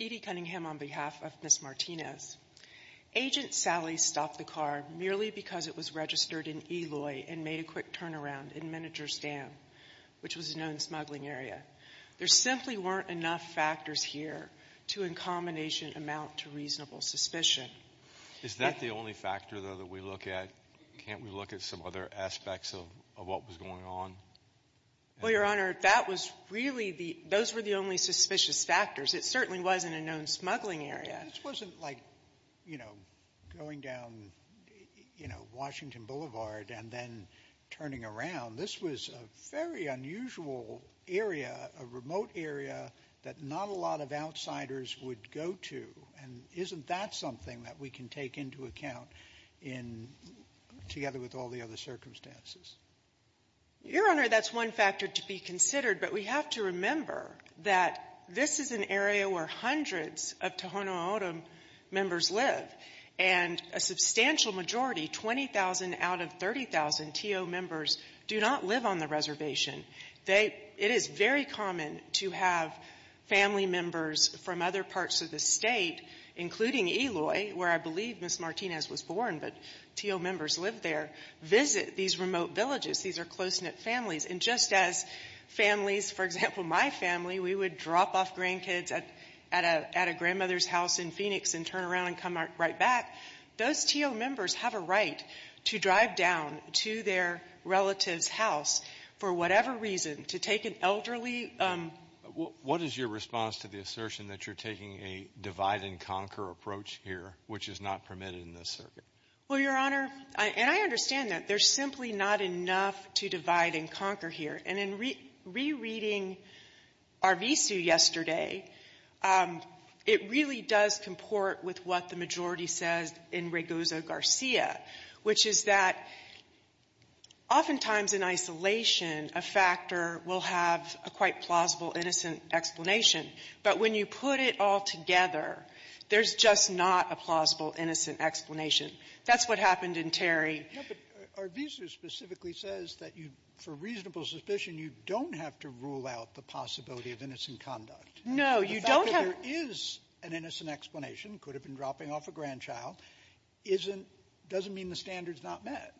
Edie Cunningham on behalf of Ms. Martinez, Agent Sally stopped the car merely because it was registered in Eloy and made a quick turnaround in Meninger's Dam, which was a known smuggling area. There simply weren't enough factors here to, in combination, amount to reasonable suspicion. JUSTICE BREYER. Is that the only factor, though, that we look at? Can't we look at some other aspects of what was going on? MS. MARTINEZ. Well, Your Honor, that was really the — those were the only suspicious factors. It certainly wasn't a known smuggling area. JUSTICE BREYER. This wasn't like, you know, going down, you know, Washington Boulevard and then turning around. This was a very unusual area, a remote area, that not a lot of outsiders would go to. And isn't that something that we can take into account in — together with all the other circumstances? MS. MARTINEZ. Your Honor, that's one factor to be considered, but we have to remember that this is an area where hundreds of Tohono O'odham members live, and a substantial majority, 20,000 out of 30,000 TO members, do not live on the reservation. It is very common to have family members from other parts of the state, including Eloy, where I believe Ms. Martinez was born, but TO members live there, visit these remote villages. These are close-knit families. And just as families — for example, my family, we would drop off grandkids at a grandmother's house in Phoenix and turn around and come right back. Those TO members have a right to drive down to their relative's house for whatever reason, to take an elderly — JUSTICE BREYER. What is your response to the assertion that you're taking a divide-and-conquer approach here, which is not permitted in this circuit? MS. MARTINEZ. Well, Your Honor — and I understand that. There's simply not enough to divide and conquer here. And in rereading Arvizu yesterday, it really does comport with what the majority says in Regoza Garcia, which is that oftentimes in isolation, a factor will have a quite plausible, innocent explanation. But when you put it all together, there's just not a plausible, innocent explanation. That's what happened in Terry. Sotomayor. But Arvizu specifically says that you, for reasonable suspicion, you don't have to rule out the possibility of innocent conduct. MS. MARTINEZ. No. You don't have to. Sotomayor. The fact that there is an innocent explanation, could have been dropping off a grandchild, isn't — doesn't mean the standard's not met. MS. MARTINEZ.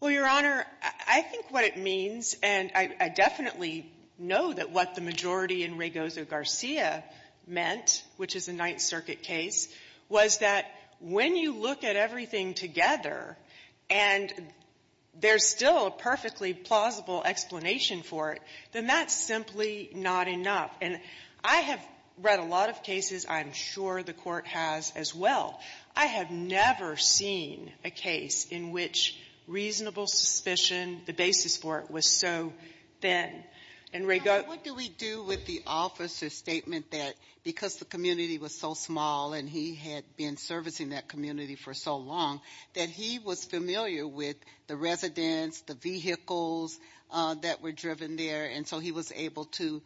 Well, Your Honor, I think what it means, and I definitely know that what the majority in Regoza Garcia meant, which is a Ninth Circuit case, was that when you look at everything together and there's still a perfectly plausible explanation for it, then that's simply not enough. And I have read a lot of cases. I'm sure the Court has as well. I have never seen a case in which reasonable suspicion, the basis for it, was so thin. In Regoza — JUSTICE SOTOMAYOR. What do we do with the officer's statement that because the community was so small and he had been servicing that community for so long, that he was familiar with the residents, the vehicles that were driven there, and so he was able to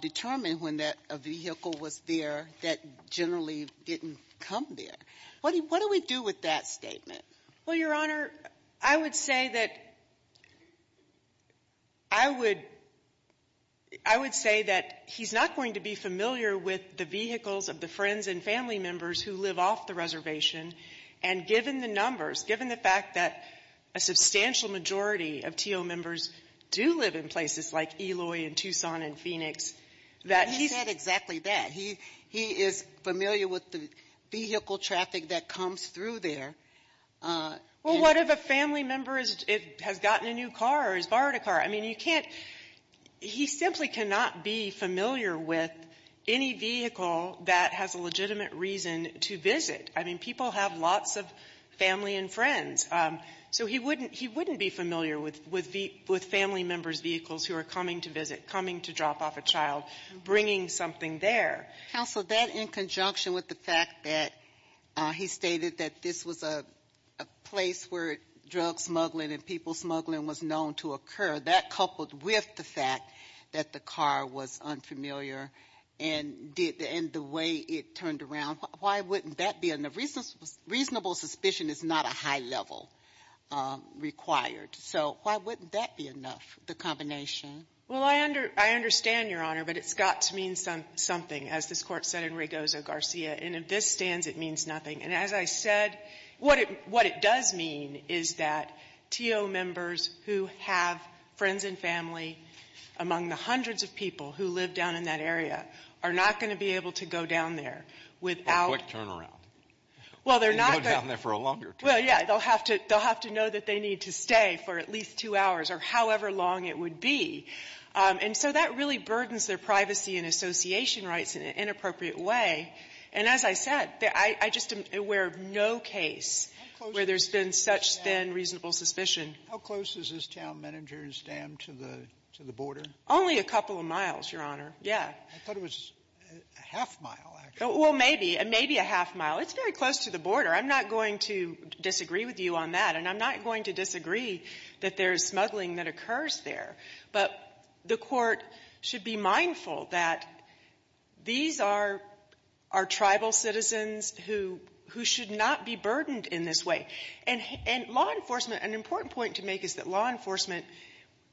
determine when that vehicle was there that generally didn't come there? What do we do with that statement? MS. MARTINEZ. Well, Your Honor, I would say that — I would — I would say that he's not going to be familiar with the vehicles of the friends and family members who live off the reservation. And given the numbers, given the fact that a substantial majority of T.O. members do live in places like Eloy and Tucson and Phoenix, that he's — JUSTICE SOTOMAYOR. He said exactly that. He is familiar with the vehicle traffic that comes through there. MS. MARTINEZ. Well, what if a family member has gotten a new car or has borrowed a car? I mean, you can't — he simply cannot be familiar with any vehicle that has a legitimate reason to visit. I mean, people have lots of family and friends. So he wouldn't — he wouldn't be familiar with family members' vehicles who are coming to visit, coming to drop off a child, bringing something there. JUSTICE SOTOMAYOR. Counsel, that in conjunction with the fact that he stated that this was a place where drug smuggling and people smuggling was known to occur, that coupled with the fact that the car was unfamiliar and did — and the way it turned around, why wouldn't that be enough? Reasonable suspicion is not a high level required. So why wouldn't that be enough, the combination? MS. MARTINEZ. Well, I understand, Your Honor, but it's got to mean something, as this Court said in Rigozo-Garcia. And if this stands, it means nothing. And as I said, what it — what it does mean is that T.O. members who have friends and family among the hundreds of people who live down in that area are not going to be able to go down there without — JUSTICE ALITO. A quick turnaround. MS. MARTINEZ. Well, they're not going — JUSTICE ALITO. They can go down there for a longer time. MS. MARTINEZ. Well, yeah. They'll have to — they'll have to know that they need to stay for at least two hours or however long it would be. And so that really burdens their privacy and association rights in an inappropriate way. And as I said, I just am aware of no case where there's been such thin, reasonable suspicion. Sotomayor. How close is this town, Meninger and Stam, to the — to the border? MS. MARTINEZ. Only a couple of miles, Your Honor. Yeah. Sotomayor. I thought it was a half-mile, actually. MS. MARTINEZ. Well, maybe. Maybe a half-mile. It's very close to the border. I'm not going to disagree with you on that, and I'm not going to disagree that there's smuggling that occurs there. But the Court should be mindful that these are our tribal citizens who — who should not be burdened in this way. And law enforcement — an important point to make is that law enforcement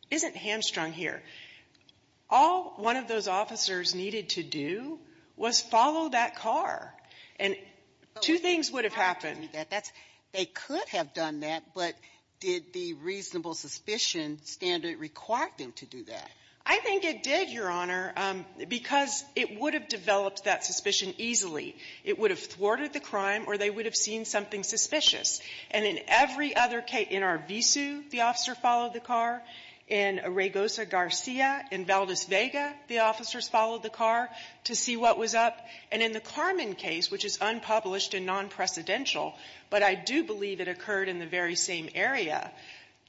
isn't hamstrung here. All one of those officers needed to do was follow that car, and two things would have happened. I mean, that's — they could have done that, but did the reasonable suspicion standard require them to do that? MS. MARTINEZ. I think it did, Your Honor, because it would have developed that suspicion easily. It would have thwarted the crime, or they would have seen something suspicious. And in every other case — in Arvizu, the officer followed the car. In Regosa, Garcia. In Valdez, Vega, the officers followed the car to see what was up. And in the Carmen case, which is unpublished and non-precedential, but I do believe it occurred in the very same area,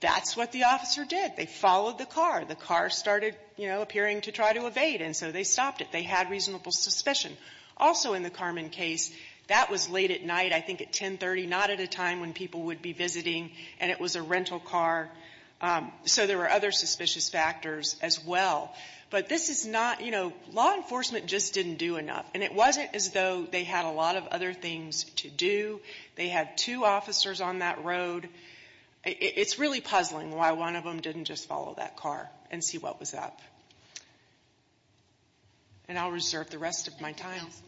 that's what the officer did. They followed the car. The car started, you know, appearing to try to evade, and so they stopped it. They had reasonable suspicion. Also in the Carmen case, that was late at night, I think at 10.30, not at a time when people would be visiting, and it was a rental car. So there were other suspicious factors as well. But this is not — you know, law enforcement just didn't do enough. And it wasn't as though they had a lot of other things to do. They had two officers on that road. It's really puzzling why one of them didn't just follow that car and see what was up. And I'll reserve the rest of my time. MS. ELLIS. Thank you, Counsel. MS. MARTINEZ. Thank you. MS. ELLIS.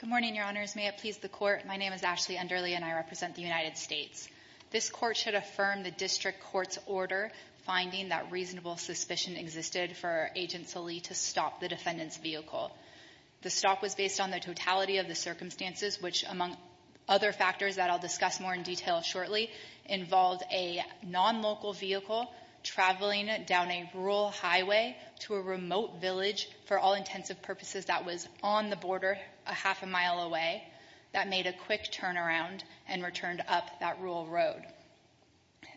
Good morning, Your Honors. May it please the Court. My name is Ashley Enderly and I represent the United States. This Court should affirm the district court's order finding that reasonable suspicion existed for Agent Salih to stop the defendant's vehicle. The stop was based on the totality of the circumstances, which, among other factors that I'll discuss more in detail shortly, involved a nonlocal vehicle traveling down a rural highway to a remote village for all intents and purposes that was on the border a half a mile away that made a quick turnaround and returned up that rural road.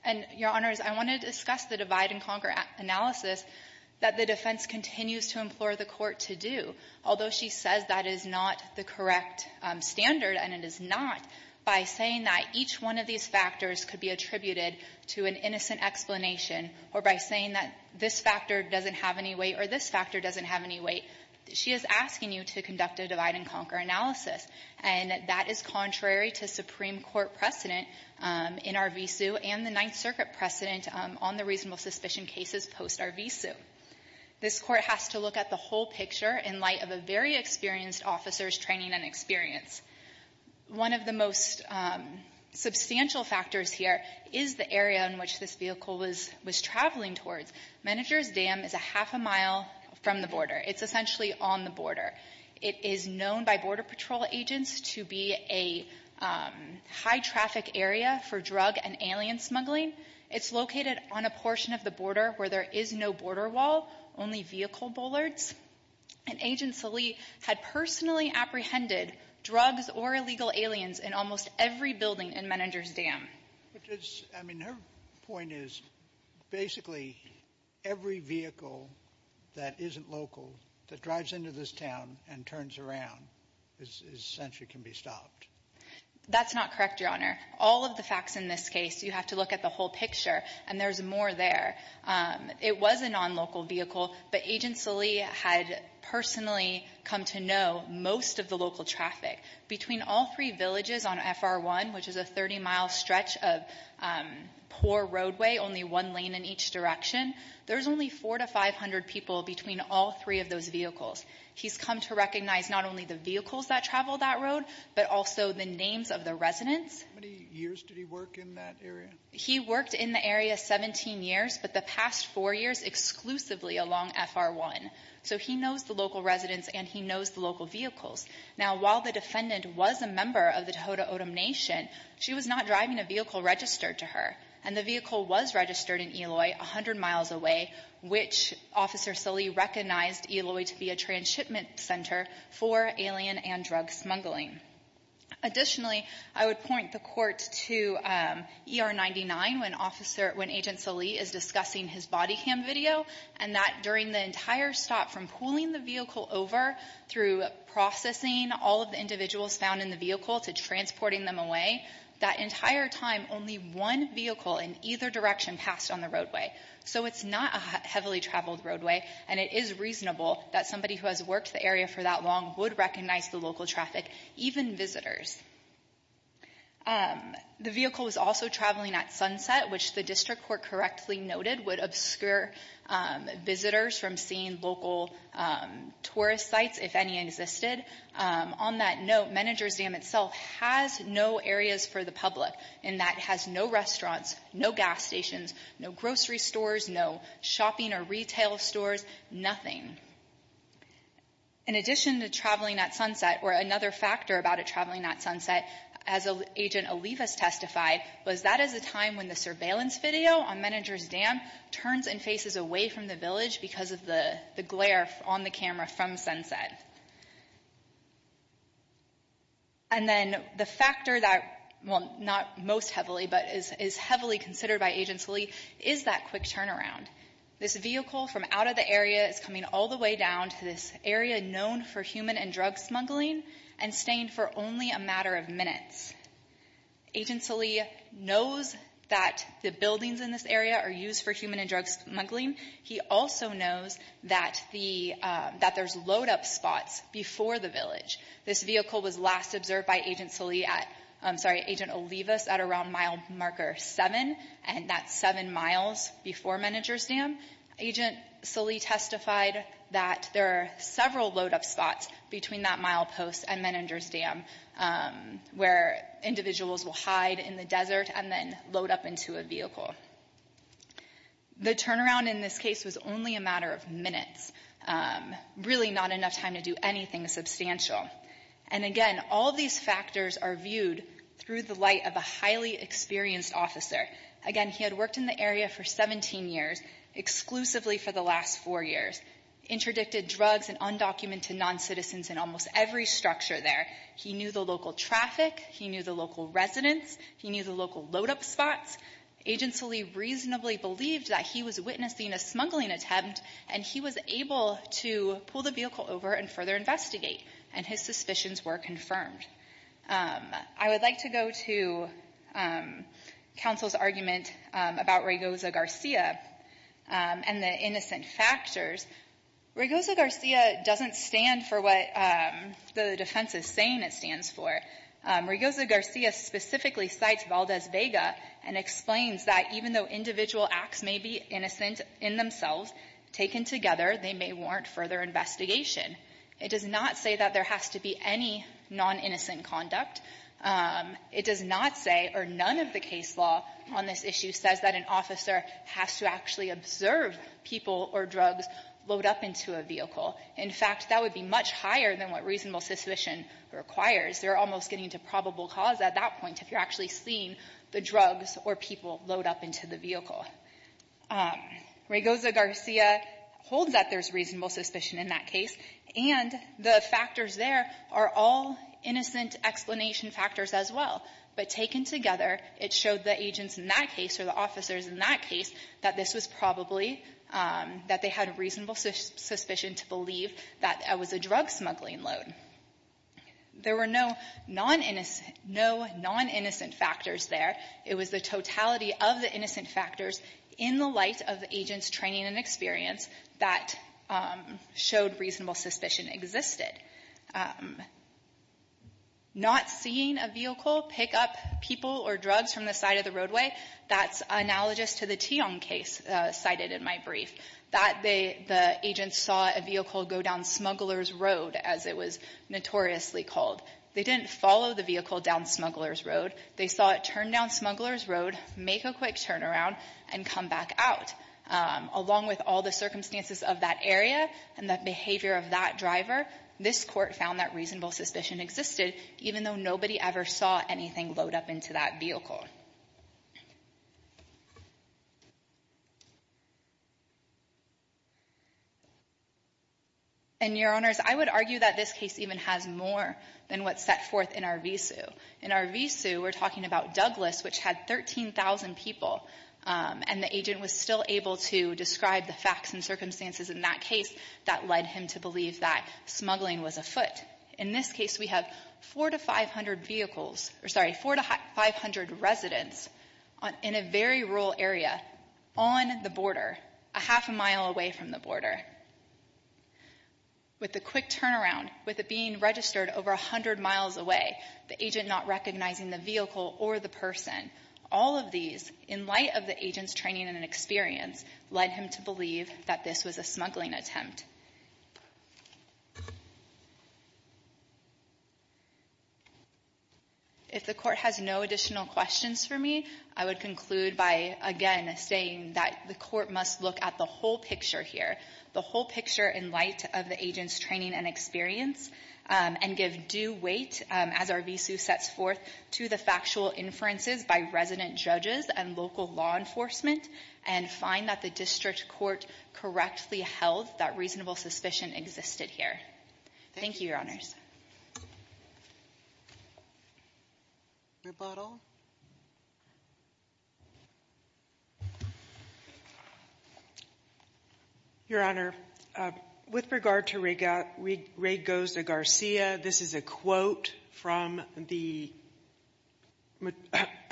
And, Your Honors, I want to discuss the divide-and-conquer analysis that the defense continues to implore the Court to do. Although she says that is not the correct standard, and it is not, by saying that each one of these factors could be attributed to an innocent explanation or by saying that this factor doesn't have any weight or this factor doesn't have any weight, she is asking you to conduct a divide-and-conquer analysis. And that is contrary to Supreme Court precedent in our v-sue and the Ninth Circuit precedent on the reasonable suspicion cases post our v-sue. This Court has to look at the whole picture in light of a very experienced officer's training and experience. One of the most substantial factors here is the area in which this vehicle was traveling towards. Managers Dam is a half a mile from the border. It's essentially on the border. It is known by Border Patrol agents to be a high-traffic area for drug and alien smuggling. It's located on a portion of the border where there is no border wall, only vehicle bollards. And Agent Salih had personally apprehended drugs or illegal aliens in almost every building in Managers Dam. I mean, her point is basically every vehicle that isn't local that drives into this town and turns around essentially can be stopped. That's not correct, Your Honor. All of the facts in this case, you have to look at the whole picture, and there's more there. It was a non-local vehicle, but Agent Salih had personally come to know most of the local traffic. Between all three villages on FR1, which is a 30-mile stretch of poor roadway, only one lane in each direction, there's only four to five hundred people between all three of those vehicles. He's come to recognize not only the vehicles that travel that road, but also the names of the residents. How many years did he work in that area? He worked in the area 17 years, but the past four years exclusively along FR1. So he knows the local residents, and he knows the local vehicles. Now, while the defendant was a member of the Tohono O'odham Nation, she was not driving a vehicle registered to her, and the vehicle was registered in Eloy 100 miles away, which Officer Salih recognized Eloy to be a transshipment center for alien and drug smuggling. Additionally, I would point the Court to ER99 when Agent Salih is discussing his body cam video, and that during the entire stop from pulling the vehicle over through processing all of the individuals found in the vehicle to transporting them away, that entire time only one vehicle in either direction passed on the roadway. So it's not a heavily traveled roadway, and it is reasonable that somebody who has worked the area for that long would recognize the local traffic, even visitors. The vehicle was also traveling at sunset, which the District Court correctly noted would obscure visitors from seeing local tourist sites, if any existed. On that note, Managers Dam itself has no areas for the public, in that it has no restaurants, no gas stations, no grocery stores, no shopping or retail stores, nothing. In addition to traveling at sunset, or another factor about it traveling at sunset, as Agent video on Managers Dam turns and faces away from the village because of the glare on the camera from sunset. And then the factor that, well, not most heavily, but is heavily considered by Agent Salih is that quick turnaround. This vehicle from out of the area is coming all the way down to this area known for human and drug smuggling, and staying for only a matter of minutes. Agent Salih knows that the buildings in this area are used for human and drug smuggling. He also knows that there's load up spots before the village. This vehicle was last observed by Agent Salih at, I'm sorry, Agent Olivas at around mile marker seven, and that's seven miles before Managers Dam. Agent Salih testified that there are several load up spots between that mile post and Managers Dam, where individuals will hide in the desert and then load up into a vehicle. The turnaround in this case was only a matter of minutes. Really not enough time to do anything substantial. And again, all these factors are viewed through the light of a highly experienced officer. Again, he had worked in the area for 17 years, exclusively for the last four years, interdicted drugs and undocumented non-citizens in almost every structure there. He knew the local traffic, he knew the local residents, he knew the local load up spots. Agent Salih reasonably believed that he was witnessing a smuggling attempt, and he was able to pull the vehicle over and further investigate, and his suspicions were confirmed. I would like to go to counsel's argument about Raygoza Garcia and the innocent factors. Raygoza Garcia doesn't stand for what the defense is saying it stands for. Raygoza Garcia specifically cites Valdez Vega and explains that even though individual acts may be innocent in themselves, taken together, they may warrant further investigation. It does not say that there has to be any non-innocent conduct. It does not say, or none of the case law on this issue says that an officer has to actually observe people or drugs load up into a vehicle. In fact, that would be much higher than what reasonable suspicion requires. They're almost getting to probable cause at that point if you're actually seeing the drugs or people load up into the vehicle. Raygoza Garcia holds that there's reasonable suspicion in that case, and the factors there are all innocent explanation factors as well. But taken together, it showed the agents in that case, or the officers in that case, that this was probably, that they had a reasonable suspicion to believe that it was a drug smuggling load. There were no non-innocent factors there. It was the totality of the innocent factors in the light of the agent's training and experience that showed reasonable suspicion existed. Not seeing a vehicle pick up people or drugs from the side of the roadway, that's analogous to the Tiong case cited in my brief. That the agents saw a vehicle go down Smuggler's Road, as it was notoriously called. They didn't follow the vehicle down Smuggler's Road. They saw it turn down Smuggler's Road, make a quick turnaround, and come back out. Along with all the circumstances of that area and the behavior of that driver, this court found that reasonable suspicion existed, even though nobody ever saw anything load up into that vehicle. And, Your Honors, I would argue that this case even has more than what's set forth in our v-sue. In our v-sue, we're talking about Douglas, which had 13,000 people, and the agent was still able to describe the facts and circumstances in that case that led him to believe that smuggling was afoot. In this case, we have four to 500 vehicles, or sorry, four to 500 residents in a very rural area on the border, a half a mile away from the border, with a quick turnaround, with it being registered over 100 miles away, the agent not recognizing the vehicle or the person, all of these, in light of the agent's training and experience, led him to believe that this was a smuggling attempt. If the court has no additional questions for me, I would conclude by, again, saying that the court must look at the whole picture here, the whole picture in light of the agent's training and experience, and give due weight, as our v-sue sets forth, to the factual inferences by resident judges and local law enforcement, and find that the district court correctly held that reasonable suspicion existed here. Thank you, Your Honors. Rebuttal. Your Honor, with regard to Ray Goza-Garcia, this is a quote from the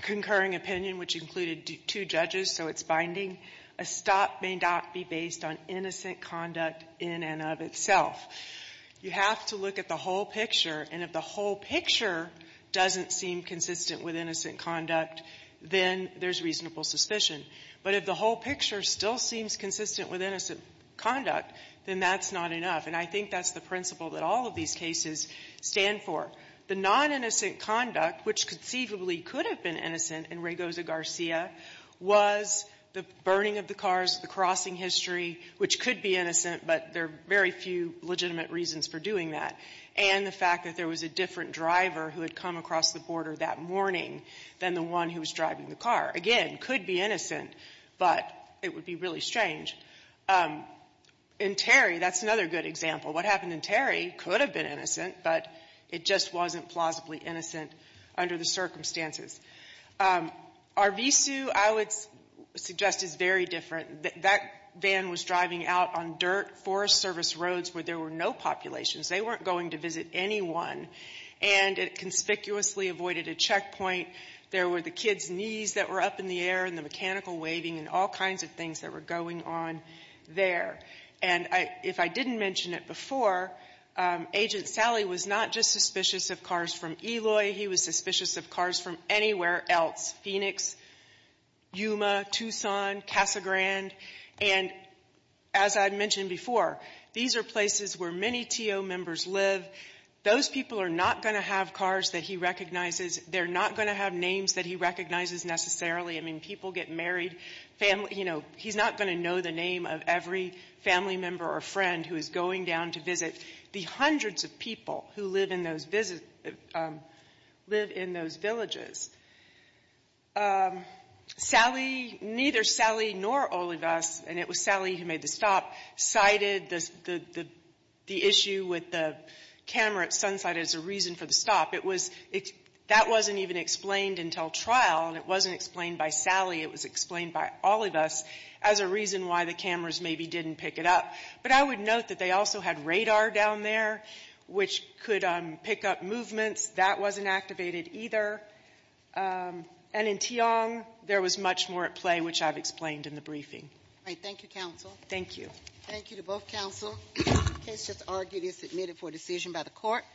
concurring opinion, which included two judges, so it's binding. A stop may not be based on innocent conduct in and of itself. You have to look at the whole picture, and if the whole picture doesn't seem consistent with innocent conduct, then there's reasonable suspicion. But if the whole picture still seems consistent with innocent conduct, then that's not enough. And I think that's the principle that all of these cases stand for. The non-innocent conduct, which conceivably could have been innocent in Ray Goza-Garcia, was the burning of the cars, the crossing history, which could be innocent, but there are very few legitimate reasons for doing that, and the fact that there was a different driver who had come across the border that morning than the one who was driving the car. Again, could be innocent, but it would be really strange. In Terry, that's another good example. What happened in Terry could have been innocent, but it just wasn't plausibly innocent under the circumstances. Arvizu, I would suggest, is very different. That van was driving out on dirt, Forest Service roads where there were no populations. They weren't going to visit anyone, and it conspicuously avoided a checkpoint. There were the kids' knees that were up in the air and the mechanical waving and all kinds of things that were going on there. And if I didn't mention it before, Agent Sally was not just suspicious of cars from Eloy, he was suspicious of cars from anywhere else, Phoenix, Yuma, Tucson, Casa Grande. And as I mentioned before, these are places where many TO members live. Those people are not going to have cars that he recognizes. They're not going to have names that he recognizes necessarily. I mean, people get married, family, you know, he's not going to know the name of every family member or friend who is going down to visit the hundreds of people who live in those villages. Sally, neither Sally nor Olivas, and it was Sally who made the stop, cited the issue with the camera at Sunside as a reason for the stop. It was, that wasn't even explained until trial, and it wasn't explained by Sally, it was explained by Olivas as a reason why the cameras maybe didn't pick it up. But I would note that they also had radar down there which could pick up movements. That wasn't activated either. And in Tiong, there was much more at play, which I've explained in the briefing. All right, thank you, counsel. Thank you. Thank you to both counsel. The case just argued is submitted for decision by the court.